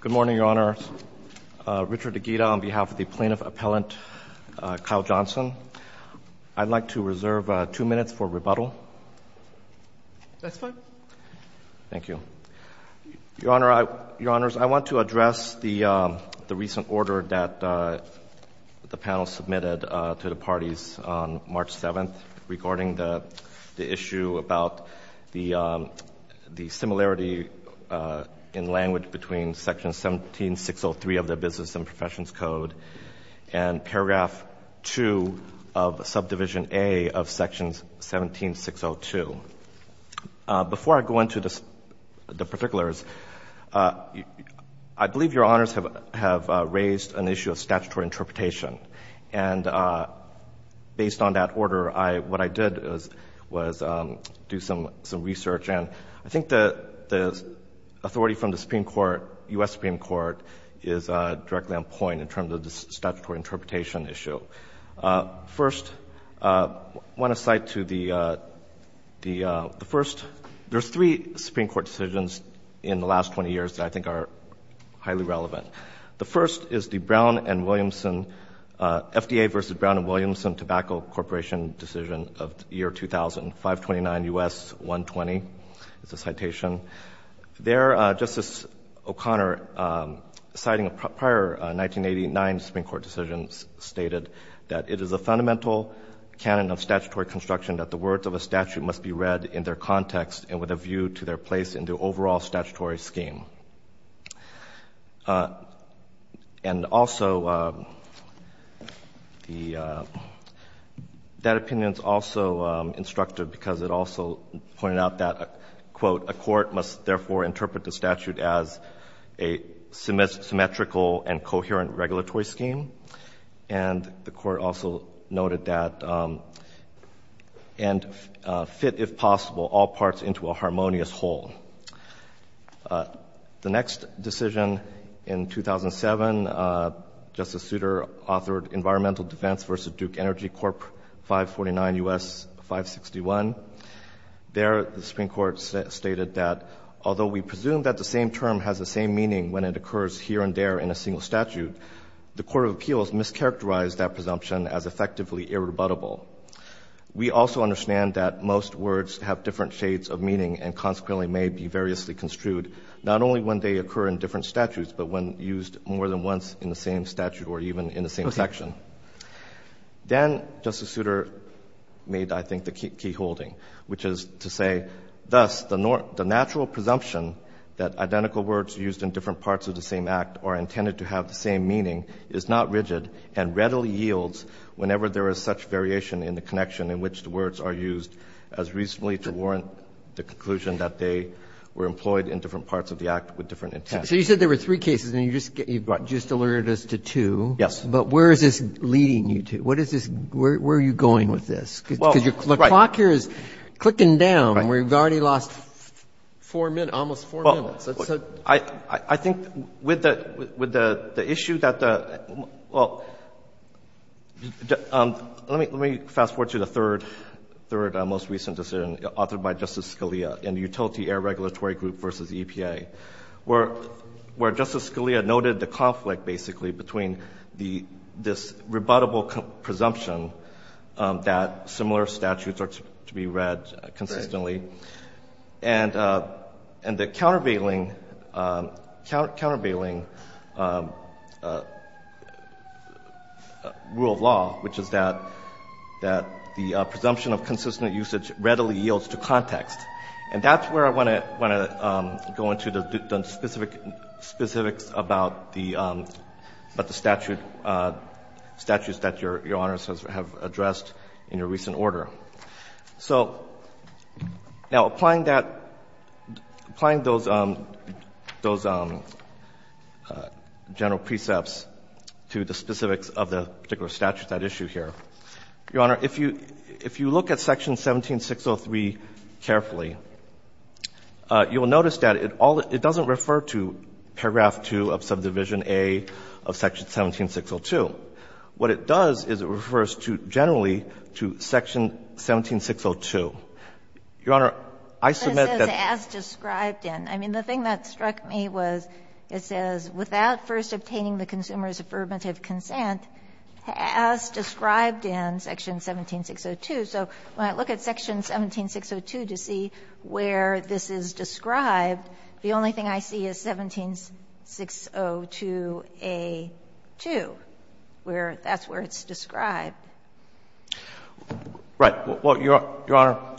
Good morning, Your Honor. Richard Aguida on behalf of the Plaintiff Appellant Kyle Johnson. I'd like to reserve two minutes for rebuttal. That's fine. Thank you. Your Honor, I want to address the recent order that the panel submitted to the parties on March 7th regarding the issue about the similarity in language between Section 17603 of the Business and Professions Code and paragraph 2 of subdivision A of section 17602. Before I go into the particulars, I believe Your Honors have raised an issue of statutory interpretation. And based on that order, what I did was do some research. And I think the authority from the Supreme Court, U.S. Supreme Court, is directly on point in terms of the statutory interpretation issue. First, I want to cite to the first, there's three Supreme Court decisions in the last 20 years that I think are highly relevant. The first is the Brown and Williamson, FDA v. Brown and Williamson Tobacco Corporation decision of the year 2000, 529 U.S. 120. It's a citation. There, Justice O'Connor, citing prior 1989 Supreme Court decisions, stated that it is a fundamental canon of statutory construction that the words of a statute must be read in their context and with a view to their place in the overall statutory scheme. And also, that opinion is also instructive because it also pointed out that, quote, a court must therefore interpret the statute as a symmetrical and coherent regulatory scheme. And the court also noted that and fit, if possible, all parts into a harmonious whole. The next decision in 2007, Justice Souter authored Environmental Defense v. Duke Energy Corp. 549 U.S. 561. There, the Supreme Court stated that although we presume that the same term has the same meaning when it occurs here and there in a single statute, the court of appeals mischaracterized that presumption as effectively irrebuttable. We also understand that most words have different shades of meaning and consequently may be variously construed, not only when they occur in different statutes, but when used more than once in the same statute or even in the same section. Then Justice Souter made, I think, the key holding, which is to say, thus, the natural presumption that identical words used in different parts of the same act are intended to have the same meaning is not rigid and readily yields whenever there is such variation in the connection in which the words are used as reasonably to warrant the conclusion that they were employed in different parts of the act with different intent. So you said there were three cases, and you just alerted us to two. Yes. But where is this leading you to? Where are you going with this? Because the clock here is clicking down. We've already lost four minutes, almost four minutes. I think with the issue that the — well, let me fast-forward to the third most recent decision authored by Justice Scalia in the Utility Air Regulatory Group v. EPA, where Justice Scalia noted the conflict, basically, between this rebuttable presumption that similar statutes are to be read consistently and the countervailing rule of law, which is that the presumption of consistent usage readily yields to context. And that's where I want to go into the specifics about the statute, statutes that Your Honors have addressed in your recent order. So now applying that, applying those general precepts to the specifics of the particular statute at issue here. Your Honor, if you look at section 17603 carefully, you will notice that it all — it doesn't refer to paragraph 2 of subdivision A of section 17602. What it does is it refers to, generally, to section 17602. Your Honor, I submit that — It says, as described in. I mean, the thing that struck me was it says, without first obtaining the consumer's affirmative consent as described in section 17602. So when I look at section 17602 to see where this is described, the only thing I see is 17602a2, where that's where it's described. Right. Well, Your Honor,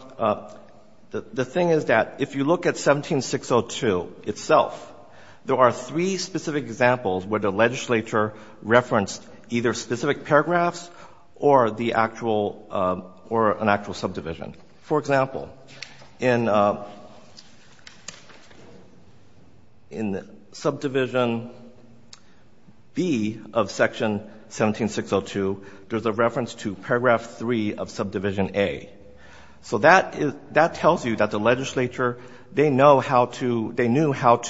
the thing is that if you look at 17602 itself, there are three specific examples where the legislature referenced either specific paragraphs or the actual — or an actual subdivision. For example, in subdivision B of section 17602, there's a reference to paragraph 3 of subdivision A. So that tells you that the legislature, they know how to — they intended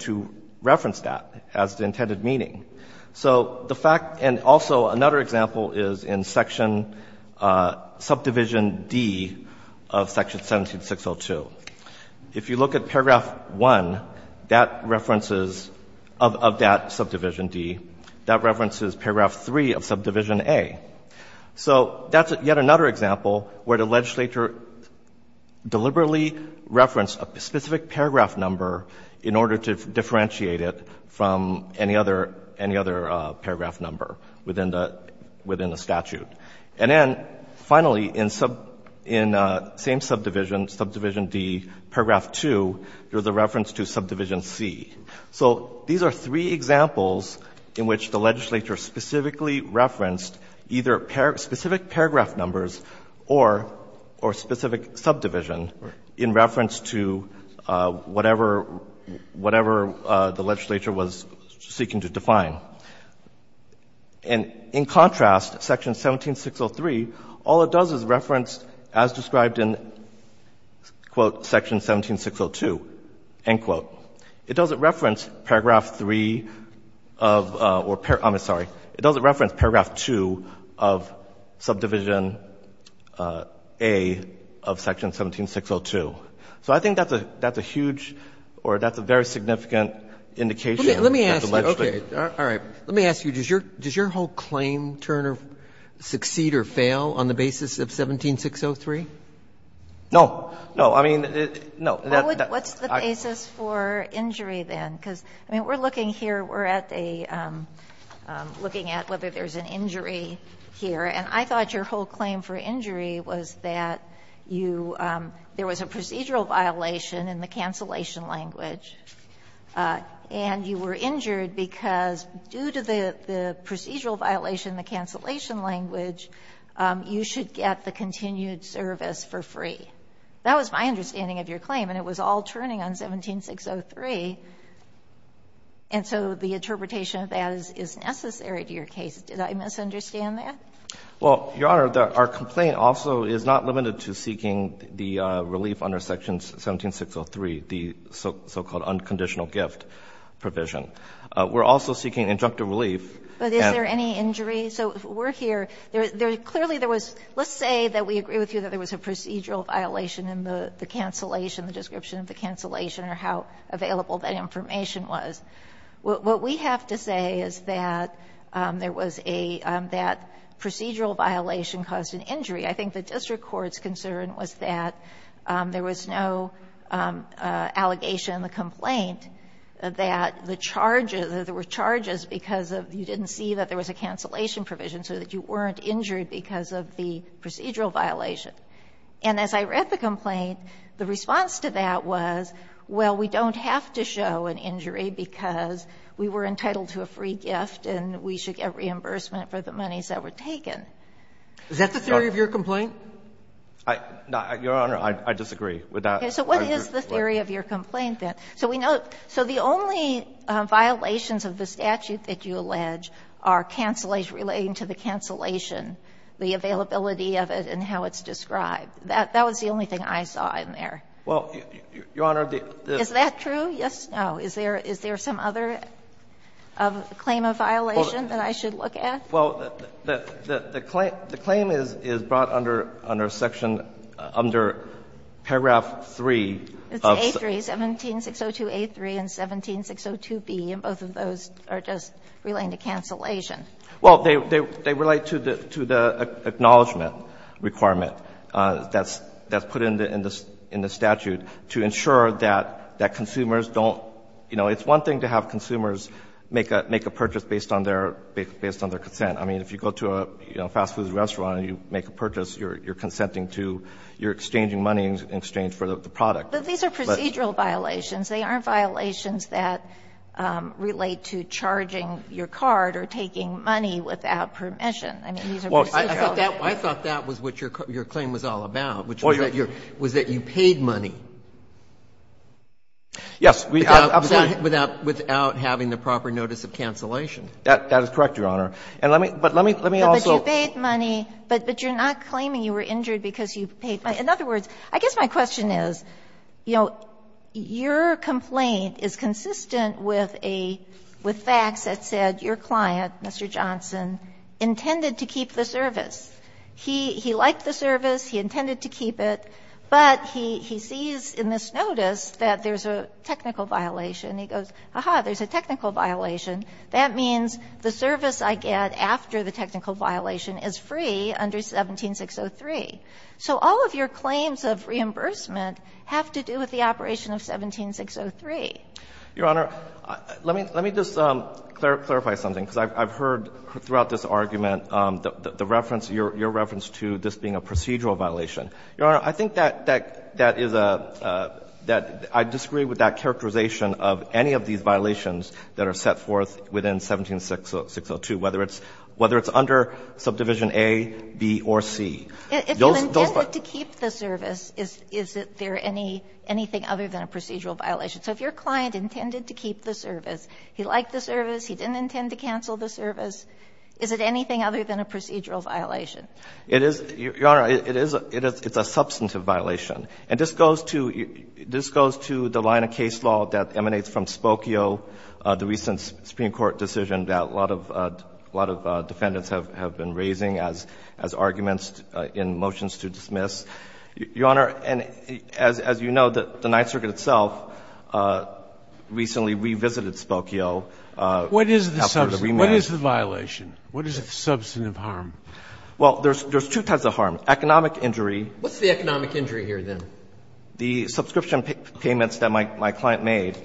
to reference that as the intended meaning. So the fact — and also another example is in section — subdivision D of section 17602. If you look at paragraph 1, that references — of that subdivision D, that references paragraph 3 of subdivision A. So that's yet another example where the legislature deliberately referenced a specific paragraph number in order to differentiate it from any other — any other paragraph number within the — within the statute. And then, finally, in sub — in same subdivision, subdivision D, paragraph 2, there's a reference to subdivision C. So these are three examples in which the legislature specifically referenced either specific paragraph numbers or specific subdivision in reference to whatever — whatever the legislature was seeking to define. And in contrast, section 17603, all it does is reference, as described in, quote, section 17602, end quote. It doesn't reference paragraph 3 of — or — I'm sorry. It doesn't reference paragraph 2 of subdivision A of section 17602. So I think that's a — that's a huge or that's a very significant indication that the legislature — Robertson Let me ask you. Okay. All right. Let me ask you. Does your — does your whole claim turn or succeed or fail on the basis of 17603? Yang No. No. I mean, no. What's the basis for injury then? Because, I mean, we're looking here, we're at a — looking at whether there's an injury here. And I thought your whole claim for injury was that you — there was a procedural violation in the cancellation language, and you were injured because due to the procedural violation in the cancellation language, you should get the continued service for free. That was my understanding of your claim, and it was all turning on 17603. And so the interpretation of that is necessary to your case. Did I misunderstand that? Yang Well, Your Honor, our complaint also is not limited to seeking the relief under section 17603, the so-called unconditional gift provision. We're also seeking injunctive relief. And — Kagan But is there any injury? So we're here. Clearly, there was — let's say that we agree with you that there was a procedural violation in the cancellation, the description of the cancellation or how available that information was. What we have to say is that there was a — that procedural violation caused an injury. I think the district court's concern was that there was no allegation in the complaint that the charges — that there were charges because you didn't see that there was a cancellation provision so that you weren't injured because of the procedural violation. And as I read the complaint, the response to that was, well, we don't have to show an injury because we were entitled to a free gift and we should get reimbursement for the monies that were taken. Is that the theory of your complaint? Yang Your Honor, I disagree with that. Kagan So what is the theory of your complaint, then? So we know — so the only violations of the statute that you allege are cancellation — relating to the cancellation, the availability of it and how it's described. That was the only thing I saw in there. Yang Well, Your Honor, the — Kagan Is that true? Yes, no. Is there some other claim of violation that I should look at? Yang Well, the claim is brought under section — under paragraph 3 of — and both of those are just relating to cancellation. Yang Well, they relate to the — to the acknowledgement requirement that's put in the statute to ensure that consumers don't — you know, it's one thing to have consumers make a purchase based on their — based on their consent. I mean, if you go to a fast food restaurant and you make a purchase, you're consenting to — you're exchanging money in exchange for the product. Kagan But these are procedural violations. They aren't violations that relate to charging your card or taking money without permission. I mean, these are procedural. Alito I thought that was what your claim was all about, which was that you paid money. Yang Yes. Absolutely. Alito Without having the proper notice of cancellation. Yang That is correct, Your Honor. And let me — but let me also — Kagan But you paid money, but you're not claiming you were injured because you paid money. In other words, I guess my question is, you know, your complaint is consistent with a — with facts that said your client, Mr. Johnson, intended to keep the service. He liked the service. He intended to keep it. But he sees in this notice that there's a technical violation. He goes, aha, there's a technical violation. That means the service I get after the technical violation is free under 17603. So all of your claims of reimbursement have to do with the operation of 17603. Yang Your Honor, let me — let me just clarify something, because I've heard throughout this argument the reference — your reference to this being a procedural violation. Your Honor, I think that that is a — that I disagree with that characterization of any of these violations that are set forth within 17602, whether it's — whether it's under subdivision A, B, or C. If you intended to keep the service, is — is there any — anything other than a procedural violation? So if your client intended to keep the service, he liked the service, he didn't intend to cancel the service, is it anything other than a procedural violation? It is — Your Honor, it is — it is — it's a substantive violation. And this goes to — this goes to the line of case law that emanates from Spokio, the recent Supreme Court decision that a lot of — a lot of defendants have been raising as — as arguments in motions to dismiss. Your Honor, as you know, the Ninth Circuit itself recently revisited Spokio after the remand. What is the — what is the violation? What is the substantive harm? Well, there's — there's two types of harm. Economic injury. What's the economic injury here, then? The subscription payments that my — my client made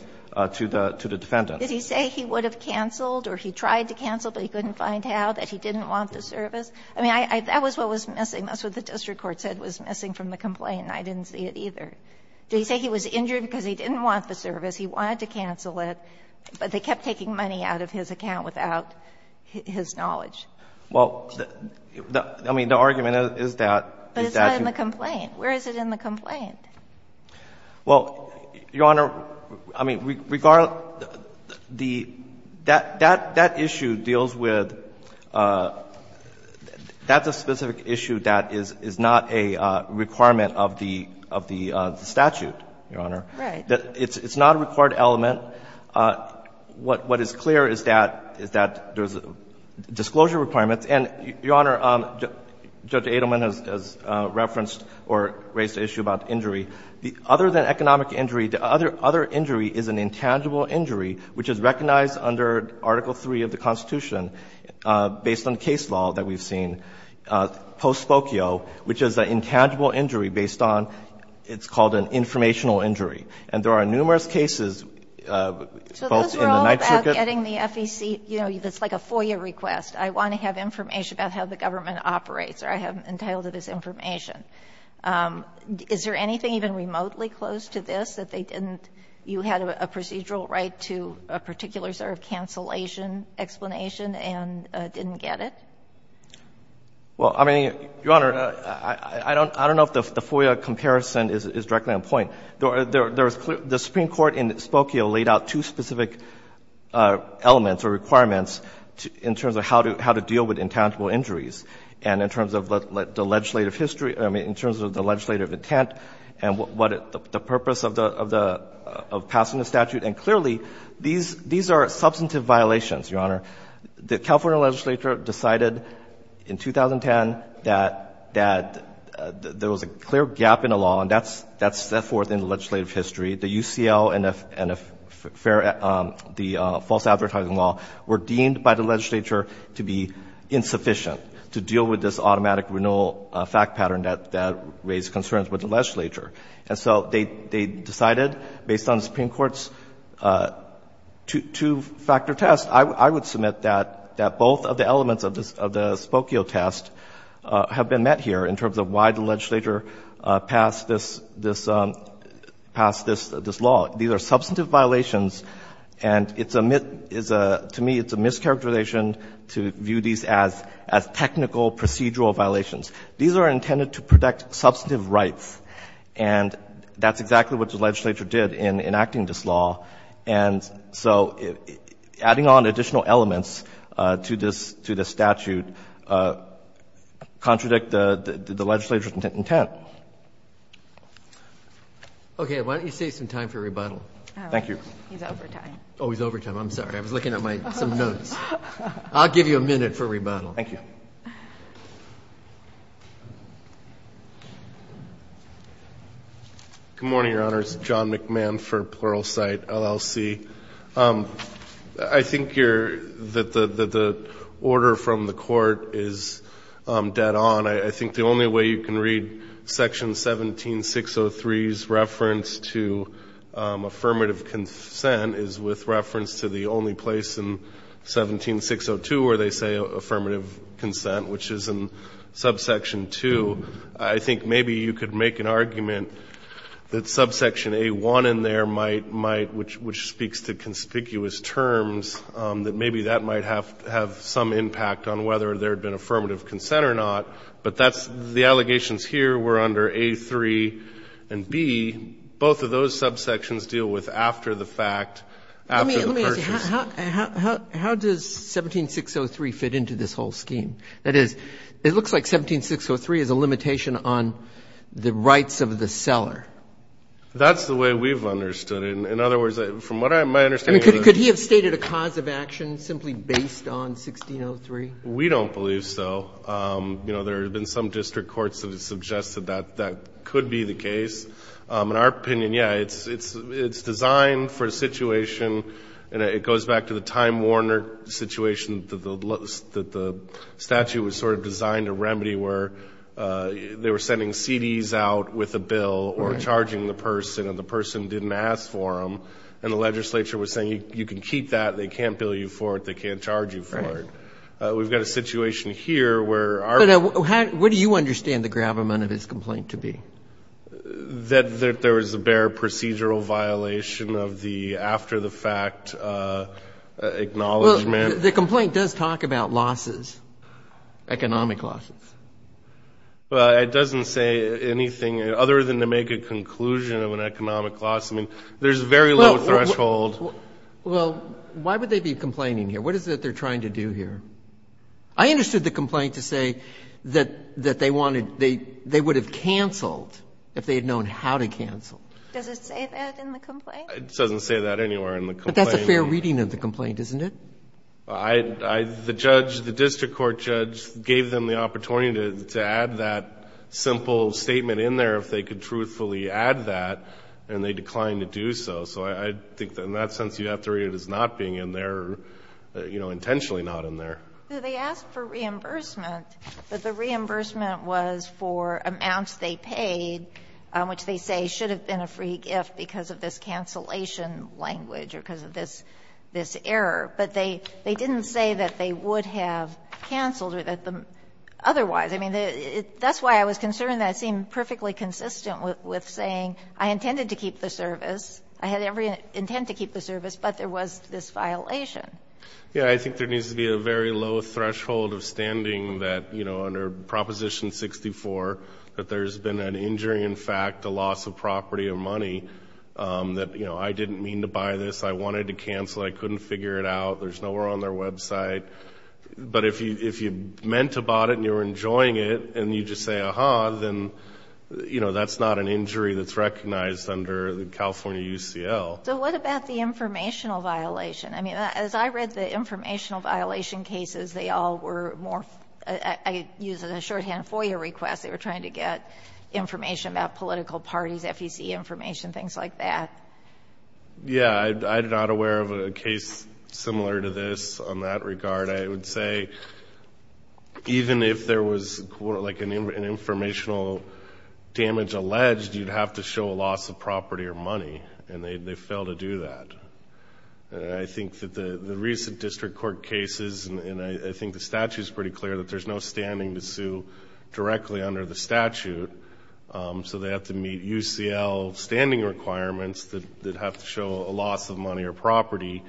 to the — to the defendants. Did he say he would have canceled or he tried to cancel, but he couldn't find how, that he didn't want the service? I mean, I — that was what was missing. That's what the district court said was missing from the complaint, and I didn't see it either. Did he say he was injured because he didn't want the service, he wanted to cancel it, but they kept taking money out of his account without his knowledge? Well, the — I mean, the argument is that — But it's not in the complaint. Where is it in the complaint? Well, Your Honor, I mean, regardless — the — that — that issue deals with — that's a specific issue that is — is not a requirement of the — of the statute, Your Honor. Right. It's not a required element. What is clear is that — is that there's disclosure requirements, and, Your Honor, Judge Adelman has referenced or raised the issue about injury. The — other than economic injury, the other — other injury is an intangible injury, which is recognized under Article III of the Constitution, based on case law that we've seen, post-spokio, which is an intangible injury based on — it's called an informational injury. And there are numerous cases, both in the Ninth Circuit — So this is all about getting the FEC — you know, it's like a FOIA request. I want to have information about how the government operates, or I have entitled to this information. Is there anything even remotely close to this that they didn't — you had a procedural right to a particular sort of cancellation explanation and didn't get it? Well, I mean, Your Honor, I don't — I don't know if the FOIA comparison is directly on point. There was clear — the Supreme Court in spokio laid out two specific elements or requirements in terms of how to deal with intangible injuries, and in terms of the legislative history — I mean, in terms of the legislative intent and what the purpose of the — of passing the statute. And clearly, these are substantive violations, Your Honor. The California legislature decided in 2010 that there was a clear gap in the law, and that's set forth in the legislative history. The UCL and the false advertising law were deemed by the legislature to be insufficient to deal with this automatic renewal fact pattern that raised concerns with the legislature. And so they decided, based on the Supreme Court's two-factor test, I would submit that both of the elements of the spokio test have been met here in terms of why the substantive violations, and it's a — to me, it's a mischaracterization to view these as technical procedural violations. These are intended to protect substantive rights. And that's exactly what the legislature did in enacting this law. And so adding on additional elements to this statute contradict the legislature's intent. Okay. Why don't you save some time for rebuttal? Thank you. He's over time. Oh, he's over time. I'm sorry. I was looking at my — some notes. I'll give you a minute for rebuttal. Thank you. Good morning, Your Honors. John McMahon for Pluralsight, LLC. I think you're — that the order from the Court is dead on. I think the only way you can read Section 17603's reference to affirmative consent is with reference to the only place in 17602 where they say affirmative consent, which is in Subsection 2. I think maybe you could make an argument that Subsection A1 in there might — which speaks to conspicuous terms, that maybe that might have some impact on whether there had been affirmative consent or not, but that's — the allegations here were under A3 and B. Both of those subsections deal with after-the-fact, after-the-purchase. Let me ask you, how does 17603 fit into this whole scheme? That is, it looks like 17603 is a limitation on the rights of the seller. That's the way we've understood it. In other words, from what my understanding is — I mean, could he have stated a cause of action simply based on 1603? We don't believe so. You know, there have been some district courts that have suggested that that could be the case. In our opinion, yeah, it's designed for a situation — and it goes back to the Time Warner situation that the statute was sort of designed to remedy, where they were sending CDs out with a bill or charging the person, and the person didn't ask for them, and the legislature was saying, you can keep that, they can't bill you for it, they can't charge you for it. We've got a situation here where our — But what do you understand the gravamen of his complaint to be? That there was a bare procedural violation of the after-the-fact acknowledgement. Well, the complaint does talk about losses, economic losses. Well, it doesn't say anything other than to make a conclusion of an economic loss. I mean, there's a very low threshold — Well, why would they be complaining here? What is it that they're trying to do here? I understood the complaint to say that they wanted — they would have canceled if they had known how to cancel. Does it say that in the complaint? It doesn't say that anywhere in the complaint. But that's a fair reading of the complaint, isn't it? I — the judge, the district court judge gave them the opportunity to add that simple statement in there if they could truthfully add that, and they declined to do so. So I think in that sense, you have to read it as not being in there, you know, intentionally not in there. They asked for reimbursement, but the reimbursement was for amounts they paid, which they say should have been a free gift because of this cancellation language or because of this — this error. But they didn't say that they would have canceled or that the — otherwise. I mean, that's why I was concerned that it seemed perfectly consistent with saying I intended to keep the service, I had every intent to keep the service, but there was this violation. Yeah, I think there needs to be a very low threshold of standing that, you know, under Proposition 64 that there's been an injury, in fact, a loss of property or money that, you know, I didn't mean to buy this, I wanted to cancel, I couldn't figure it out, there's nowhere on their website. But if you meant to buy it and you were enjoying it and you just say, aha, then, you know, that's not an injury that's recognized under the California UCL. So what about the informational violation? I mean, as I read the informational violation cases, they all were more — I use it as a shorthand FOIA request, they were trying to get information about political parties, FEC information, things like that. Yeah, I'm not aware of a case similar to this on that regard. I would say even if there was, like, an informational damage alleged, you'd have to show a loss of property or money, and they failed to do that. I think that the recent district court cases, and I think the statute is pretty clear that there's no standing to sue directly under the statute, so they have to meet UCL standing requirements that have to show a loss of money or property,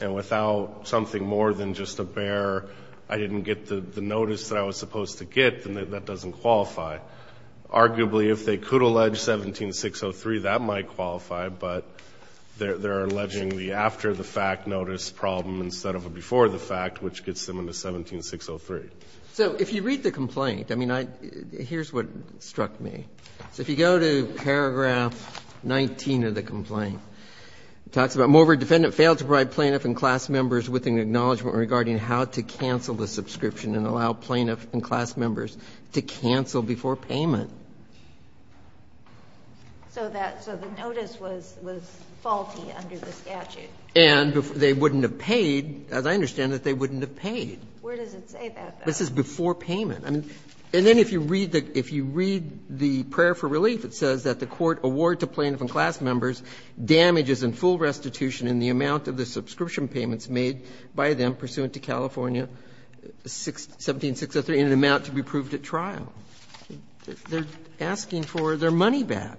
and without something more than just a bare, I didn't get the notice that I was supposed to get, then that doesn't qualify. Arguably, if they could allege 17603, that might qualify, but they're alleging the after-the-fact notice problem instead of a before-the-fact, which gets them into 17603. So if you read the complaint, I mean, here's what struck me. So if you go to paragraph 19 of the complaint, it talks about moreover, defendant failed to provide plaintiff and class members with an acknowledgment regarding how to cancel the subscription and allow plaintiff and class members to cancel before payment. So the notice was faulty under the statute. And they wouldn't have paid. As I understand it, they wouldn't have paid. Where does it say that? This is before payment. And then if you read the prayer for relief, it says that the court award to plaintiff and class members damages in full restitution in the amount of the subscription payments made by them pursuant to California 17603 in an amount to be proved at trial. They're asking for their money back.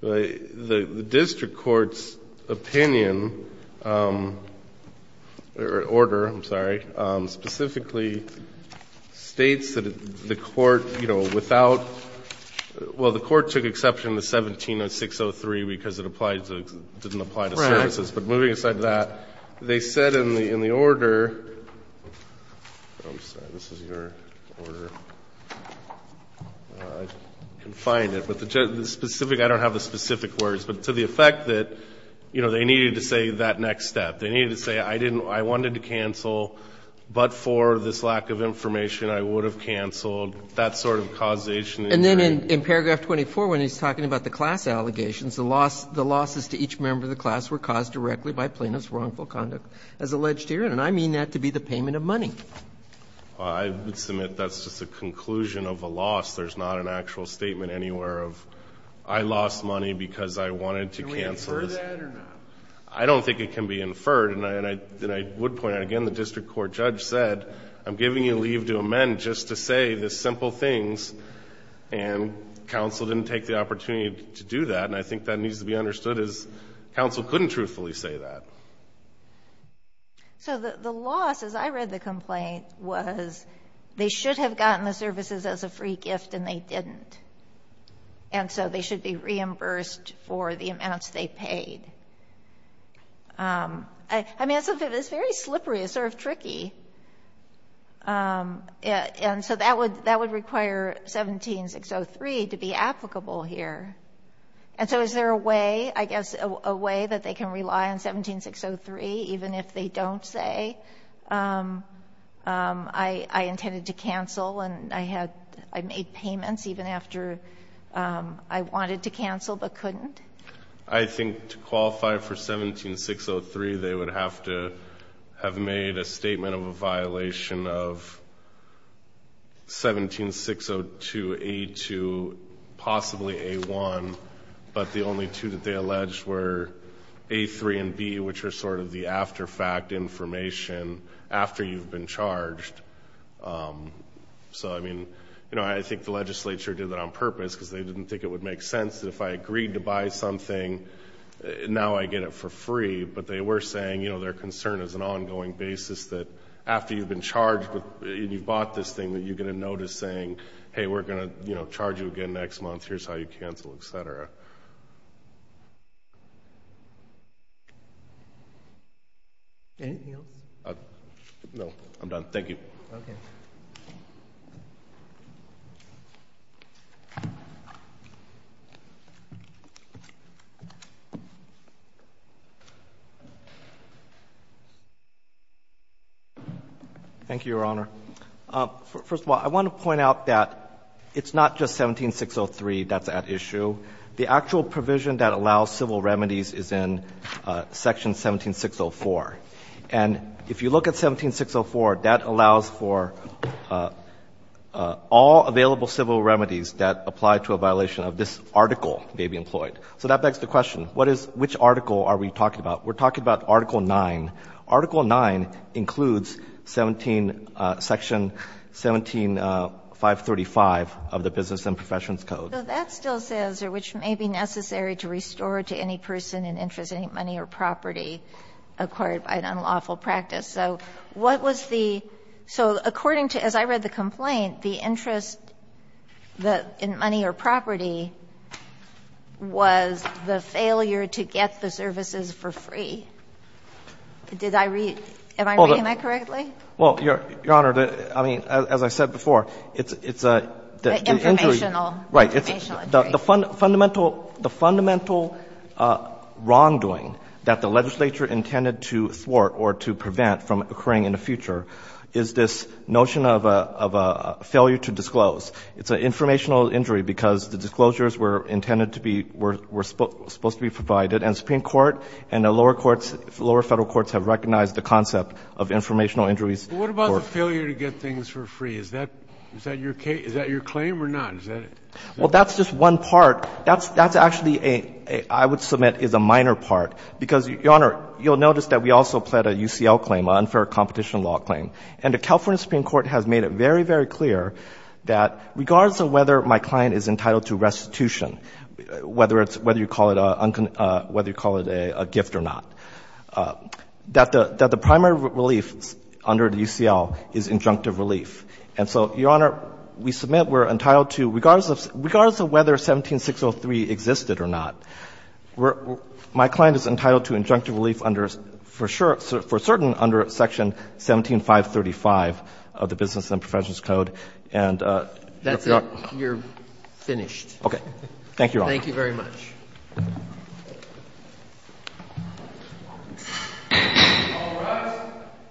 The district court's opinion or order, I'm sorry, specifically states that the court, you know, without, well, the court took exception to 17603 because it applied to, didn't apply to services. But moving aside to that, they said in the order, I'm sorry, this is your order. I can find it. But the specific, I don't have the specific words, but to the effect that, you know, they needed to say that next step. They needed to say I didn't, I wanted to cancel, but for this lack of information I would have canceled. That sort of causation. And then in paragraph 24, when he's talking about the class allegations, the losses to each member of the class were caused directly by plaintiff's wrongful conduct as alleged herein. And I mean that to be the payment of money. I would submit that's just a conclusion of a loss. There's not an actual statement anywhere of I lost money because I wanted to cancel. Can we infer that or not? I don't think it can be inferred. And I would point out, again, the district court judge said I'm giving you leave to amend just to say the simple things. And counsel didn't take the opportunity to do that. And I think that needs to be understood is counsel couldn't truthfully say that. So the loss, as I read the complaint, was they should have gotten the services as a free gift and they didn't. And so they should be reimbursed for the amounts they paid. It's sort of tricky. And so that would require 17603 to be applicable here. And so is there a way, I guess, a way that they can rely on 17603 even if they don't say I intended to cancel and I made payments even after I wanted to cancel but couldn't? I think to qualify for 17603, they would have to have made a statement of a violation of 17602A2, possibly A1, but the only two that they alleged were A3 and B, which are sort of the after fact information after you've been charged. So, I mean, I think the legislature did that on purpose because they didn't think it would make sense that if I agreed to buy something, now I get it for free. But they were saying their concern is an ongoing basis that after you've been charged and you've bought this thing that you're going to notice saying, hey, we're going to charge you again next month, here's how you cancel, et cetera. Anything else? No, I'm done. Thank you. Okay. Thank you, Your Honor. First of all, I want to point out that it's not just 17603 that's at issue. The actual provision that allows civil remedies is in Section 17604. And if you look at 17604, that allows for all available civil remedies that apply to a violation of this article may be employed. So that begs the question, what is — which article are we talking about? We're talking about Article 9. Article 9 includes 17 — Section 17535 of the Business and Professions Code. So that still says, or which may be necessary to restore to any person in interest any money or property acquired by an unlawful practice. So what was the — so according to — as I read the complaint, the interest in money or property was the failure to get the services for free. Did I read — am I reading that correctly? Well, Your Honor, I mean, as I said before, it's a — Informational. Right. Informational injury. The fundamental — the fundamental wrongdoing that the legislature intended to thwart or to prevent from occurring in the future is this notion of a failure to disclose. It's an informational injury because the disclosures were intended to be — were supposed to be provided. And the Supreme Court and the lower courts — lower Federal courts have recognized the concept of informational injuries. But what about the failure to get things for free? Is that — is that your — is that your claim or not? Is that — Well, that's just one part. That's actually a — I would submit is a minor part, because, Your Honor, you'll notice that we also pled a UCL claim, an unfair competition law claim. And the California Supreme Court has made it very, very clear that regardless of whether my client is entitled to restitution, whether it's — whether you call it a — whether you call it a gift or not, that the — that the primary relief under the UCL is injunctive relief. And so, Your Honor, we submit we're entitled to — regardless of — regardless of whether 17603 existed or not, we're — my client is entitled to injunctive relief under Section 535 of the Business and Professions Code. And — That's it. You're finished. Okay. Thank you, Your Honor.